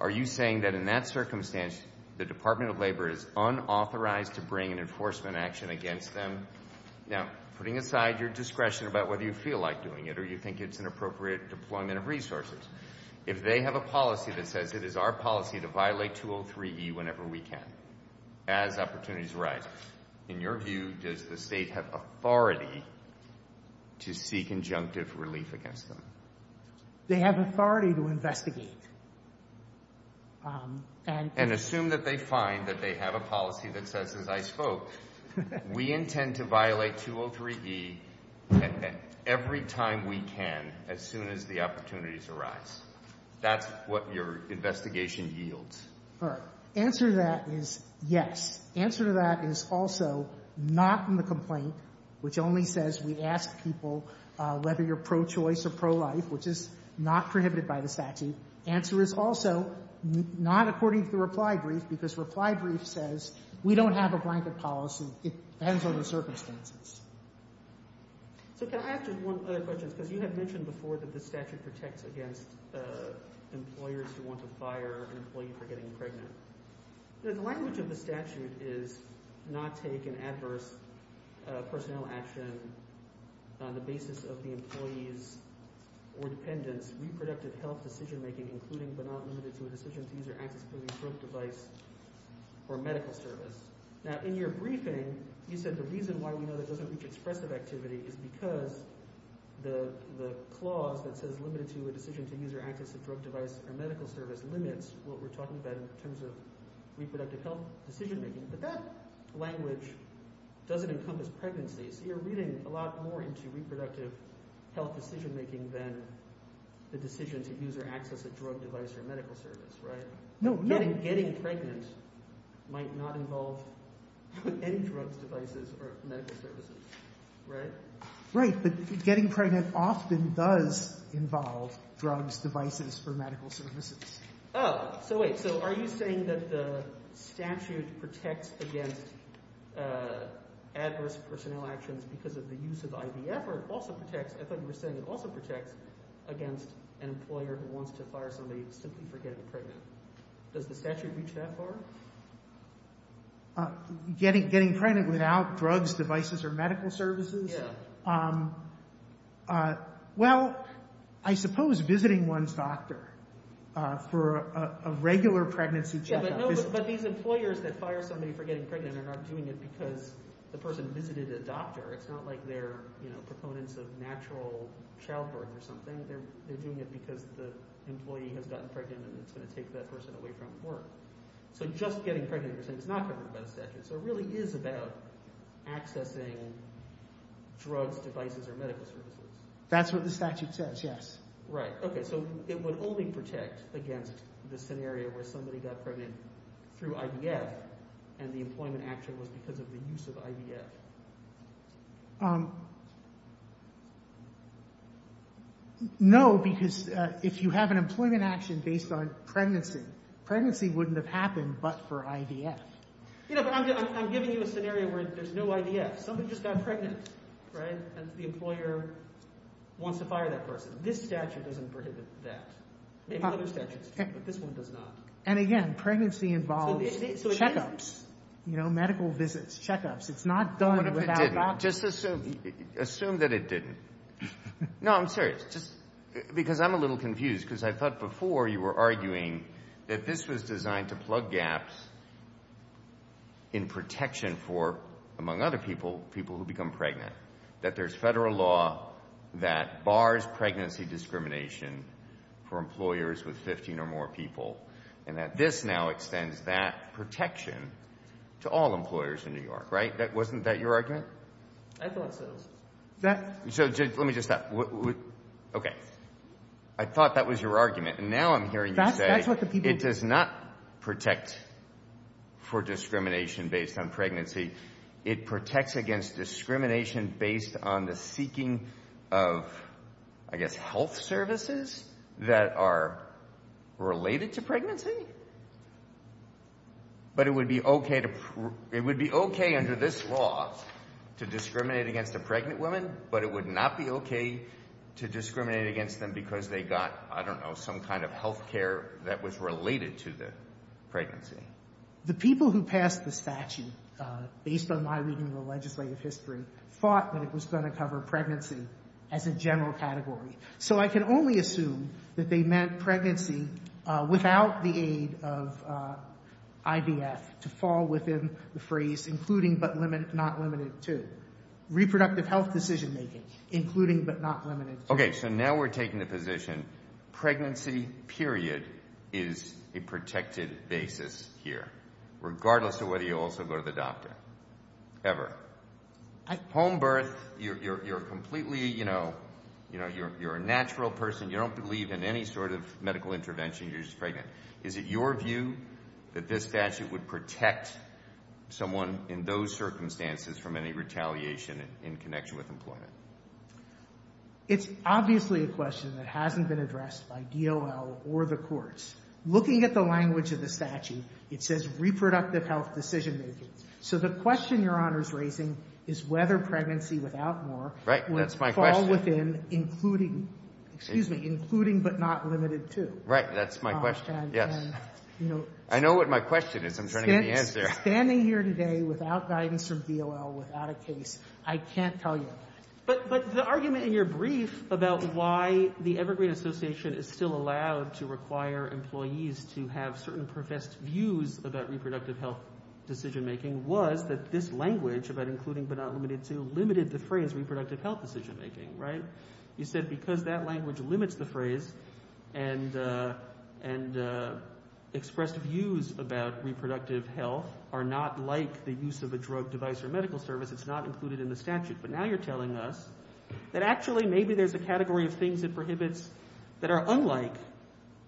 Are you saying that in that circumstance, the Department of Labor is unauthorized to bring an enforcement action against them? Now, putting aside your discretion about whether you feel like doing it or you think it's an appropriate deployment of resources, if they have a policy that says it is our policy to violate 203E whenever we can, as opportunities arise, in your view, does the state have authority to seek injunctive relief against them? They have authority to investigate. And assume that they find that they have a policy that says, as I spoke, we intend to violate 203E every time we can as soon as the opportunities arise. That's what your investigation yields. Answer to that is yes. Answer to that is also not in the complaint, which only says we ask people whether you're pro-choice or pro-life, which is not prohibited by the statute. Answer is also not according to the reply brief because reply brief says we don't have a blanket policy. It depends on the circumstances. So can I ask just one other question? Because you had mentioned before that the statute protects against employers who want to fire an employee for getting pregnant. The language of the statute is not take an adverse personnel action on the basis of the employee's or dependent's reproductive health decision-making, including but not limited to a decision to use or access a drug device or medical service. Now in your briefing, you said the reason why we know that doesn't reach expressive activity is because the clause that says limited to a decision to use or access a drug device or medical service limits what we're talking about in terms of reproductive health decision-making. But that language doesn't encompass pregnancy. So you're reading a lot more into reproductive health decision-making than the decision to use or access a drug device or medical service, right? No. Getting pregnant might not involve any drugs, devices, or medical services, right? Right. But getting pregnant often does involve drugs, devices, or medical services. Oh, so wait. So are you saying that the statute protects against adverse personnel actions because of the use of IVF, or it also protects against an employer who wants to fire somebody simply for getting pregnant? Does the statute reach that far? Getting pregnant without drugs, devices, or medical services? Yeah. Well, I suppose visiting one's doctor for a regular pregnancy checkup. But these employers that fire somebody for getting pregnant are not doing it because the person visited a doctor. It's not like they're proponents of natural childbirth or something. They're doing it because the employee has gotten pregnant and it's going to take that person away from work. So just getting pregnant, you're saying it's not covered by the statute. So it really is about accessing drugs, devices, or medical services. That's what the statute says, yes. Right. Okay, so it would only protect against the scenario where somebody got pregnant through IVF and the employment action was because of the use of IVF. No, because if you have an employment action based on pregnancy, pregnancy wouldn't have happened but for IVF. I'm giving you a scenario where there's no IVF. Somebody just got pregnant and the employer wants to fire that person. This statute doesn't prohibit that. Maybe other statutes do, but this one does not. And again, pregnancy involves checkups, medical visits, checkups. It's not done without doctors. Assume that it didn't. No, I'm serious. Because I'm a little confused because I thought before you were arguing that this was designed to plug gaps in protection for, among other people, people who become pregnant. That there's federal law that bars pregnancy discrimination for employers with 15 or more people and that this now extends that protection to all employers in New York, right? Wasn't that your argument? I thought so. So let me just stop. Okay, I thought that was your argument. Now I'm hearing you say it does not protect for discrimination based on pregnancy. It protects against discrimination based on the seeking of, I guess, health services that are related to pregnancy? But it would be okay under this law to discriminate against a pregnant woman, but it would not be okay to discriminate against them because they got, I don't know, some kind of health care that was related to the pregnancy. The people who passed the statute, based on my reading of the legislative history, thought that it was going to cover pregnancy as a general category. So I can only assume that they meant pregnancy without the aid of IDF to fall within the phrase including but not limited to. Reproductive health decision-making, including but not limited to. Okay, so now we're taking the position pregnancy, period, is a protected basis here, regardless of whether you also go to the doctor, ever. Home birth, you're completely, you know, you're a natural person. You don't believe in any sort of medical intervention. You're just pregnant. Is it your view that this statute would protect someone in those circumstances from any retaliation in connection with employment? It's obviously a question that hasn't been addressed by DOL or the courts. Looking at the language of the statute, it says reproductive health decision-making. So the question Your Honor's raising is whether pregnancy without more would fall within including, excuse me, including but not limited to. Right, that's my question, yes. I know what my question is. I'm trying to get the answer. Standing here today without guidance from DOL, without a case, I can't tell you that. But the argument in your brief about why the Evergreen Association is still allowed to require employees to have certain professed views about reproductive health decision-making was that this language about including but not limited to limited the phrase reproductive health decision-making, right? You said because that language limits the phrase and expressed views about reproductive health are not like the use of a drug, device, or medical service. It's not included in the statute. But now you're telling us that actually maybe there's a category of things it prohibits that are unlike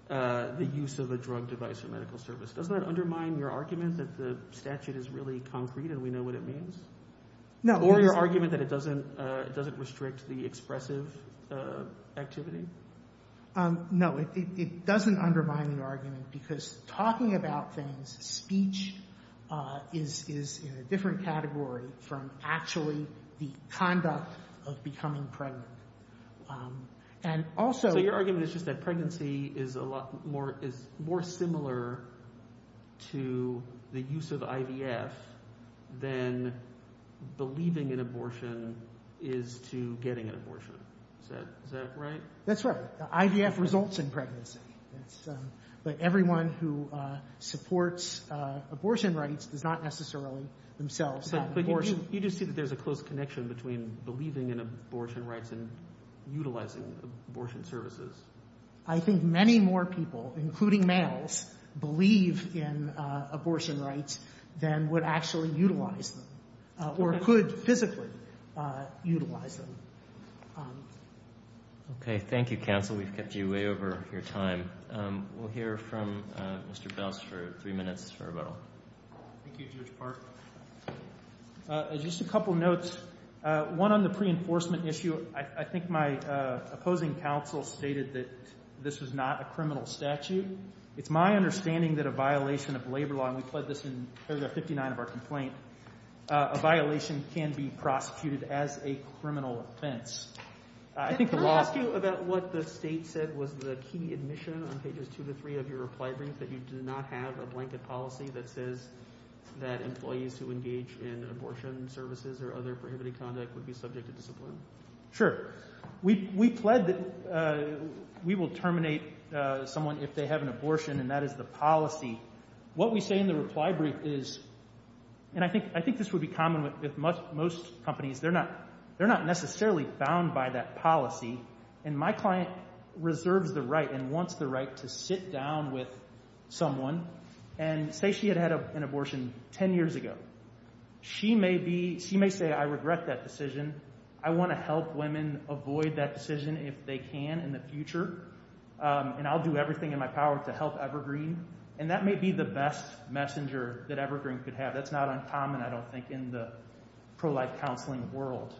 the use of a drug, device, or medical service. Doesn't that undermine your argument that the statute is really concrete and we know what it means? Or your argument that it doesn't restrict the expressive activity? No, it doesn't undermine the argument because talking about things, speech is in a different category from actually the conduct of becoming pregnant. So your argument is just that pregnancy is more similar to the use of IVF than believing in abortion is to getting an abortion. Is that right? That's right. IVF results in pregnancy. But everyone who supports abortion rights does not necessarily themselves have an abortion. You just see that there's a close connection between believing in abortion rights and utilizing abortion services. I think many more people, including males, believe in abortion rights than would actually utilize them or could physically utilize them. Okay. Thank you, counsel. We've kept you way over your time. We'll hear from Mr. Belz for three minutes for rebuttal. Thank you, Judge Park. Just a couple notes. One on the pre-enforcement issue. I think my opposing counsel stated that this was not a criminal statute. It's my understanding that a violation of labor law, and we pled this in paragraph 59 of our complaint, a violation can be prosecuted as a criminal offense. Can I ask you about what the state said was the key admission on pages two to three of your reply brief that you do not have a blanket policy that says that employees who engage in abortion services or other prohibited conduct would be subject to discipline? Sure. We pled that we will terminate someone if they have an abortion, and that is the policy. What we say in the reply brief is, and I think this would be common with most companies, they're not necessarily bound by that policy. And my client reserves the right and wants the right to sit down with someone and say she had had an abortion ten years ago. She may say, I regret that decision. I want to help women avoid that decision if they can in the future, and I'll do everything in my power to help Evergreen. And that may be the best messenger that Evergreen could have. That's not uncommon, I don't think, in the pro-life counseling world.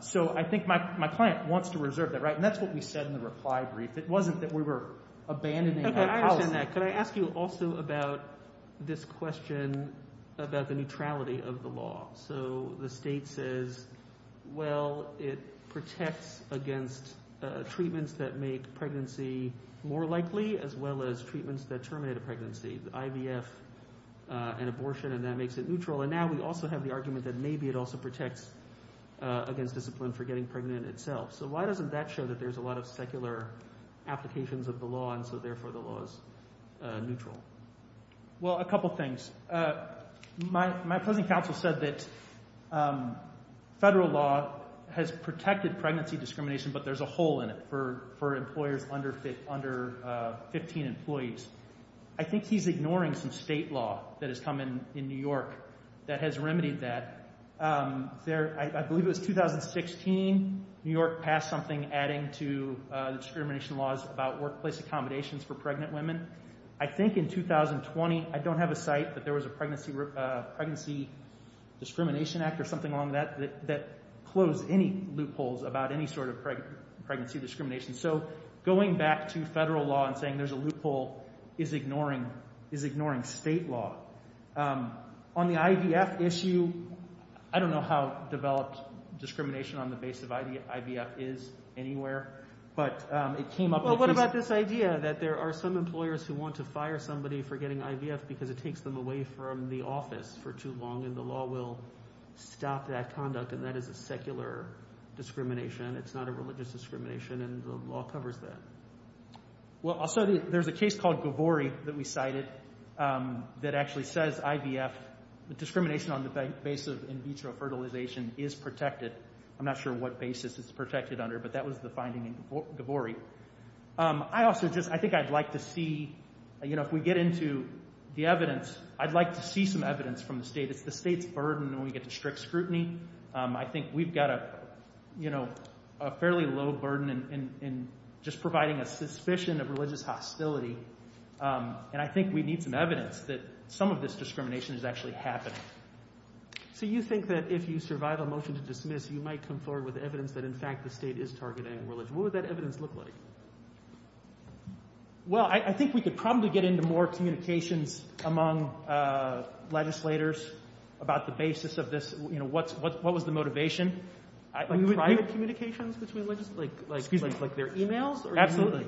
So I think my client wants to reserve that right, and that's what we said in the reply brief. It wasn't that we were abandoning our policy. Okay, I understand that. Could I ask you also about this question about the neutrality of the law? So the state says, well, it protects against treatments that make pregnancy more likely as well as treatments that terminate a pregnancy, the IVF and abortion, and that makes it neutral. And now we also have the argument that maybe it also protects against discipline for getting pregnant itself. So why doesn't that show that there's a lot of secular applications of the law, and so therefore the law is neutral? Well, a couple things. My present counsel said that federal law has protected pregnancy discrimination, but there's a hole in it for employers under 15 employees. I think he's ignoring some state law that has come in New York that has remedied that. I believe it was 2016, New York passed something adding to discrimination laws about workplace accommodations for pregnant women. I think in 2020, I don't have a site, but there was a Pregnancy Discrimination Act or something along that that closed any loopholes about any sort of pregnancy discrimination. So going back to federal law and saying there's a loophole is ignoring state law. On the IVF issue, I don't know how developed discrimination on the basis of IVF is anywhere, but it came up. Well, what about this idea that there are some employers who want to fire somebody for getting IVF because it takes them away from the office for too long and the law will stop that conduct, and that is a secular discrimination. It's not a religious discrimination, and the law covers that. Well, also there's a case called Gavori that we cited that actually says IVF, the discrimination on the basis of in vitro fertilization is protected. I'm not sure what basis it's protected under, but that was the finding in Gavori. I also just, I think I'd like to see, you know, if we get into the evidence, I'd like to see some evidence from the state. It's the state's burden when we get to strict scrutiny. I think we've got, you know, a fairly low burden in just providing a suspicion of religious hostility, and I think we need some evidence that some of this discrimination is actually happening. So you think that if you survive a motion to dismiss, you might come forward with evidence that, in fact, the state is targeting religion. What would that evidence look like? Well, I think we could probably get into more communications among legislators about the basis of this, you know, what was the motivation. Private communications between legislators? Excuse me. Like their e-mails? Absolutely.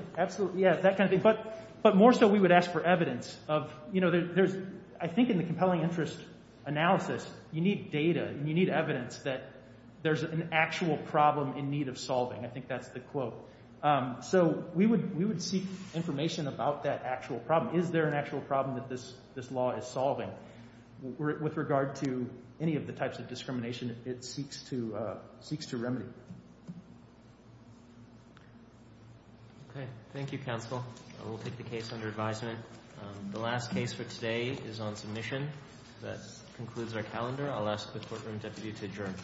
Yeah, that kind of thing. But more so we would ask for evidence of, you know, there's, I think in the compelling interest analysis, you need data and you need evidence that there's an actual problem in need of solving. I think that's the quote. So we would seek information about that actual problem. Is there an actual problem that this law is solving? With regard to any of the types of discrimination, it seeks to remedy. Thank you, counsel. I will take the case under advisement. The last case for today is on submission. That concludes our calendar. I'll ask the courtroom deputy to adjourn. Court is adjourned. Thank you.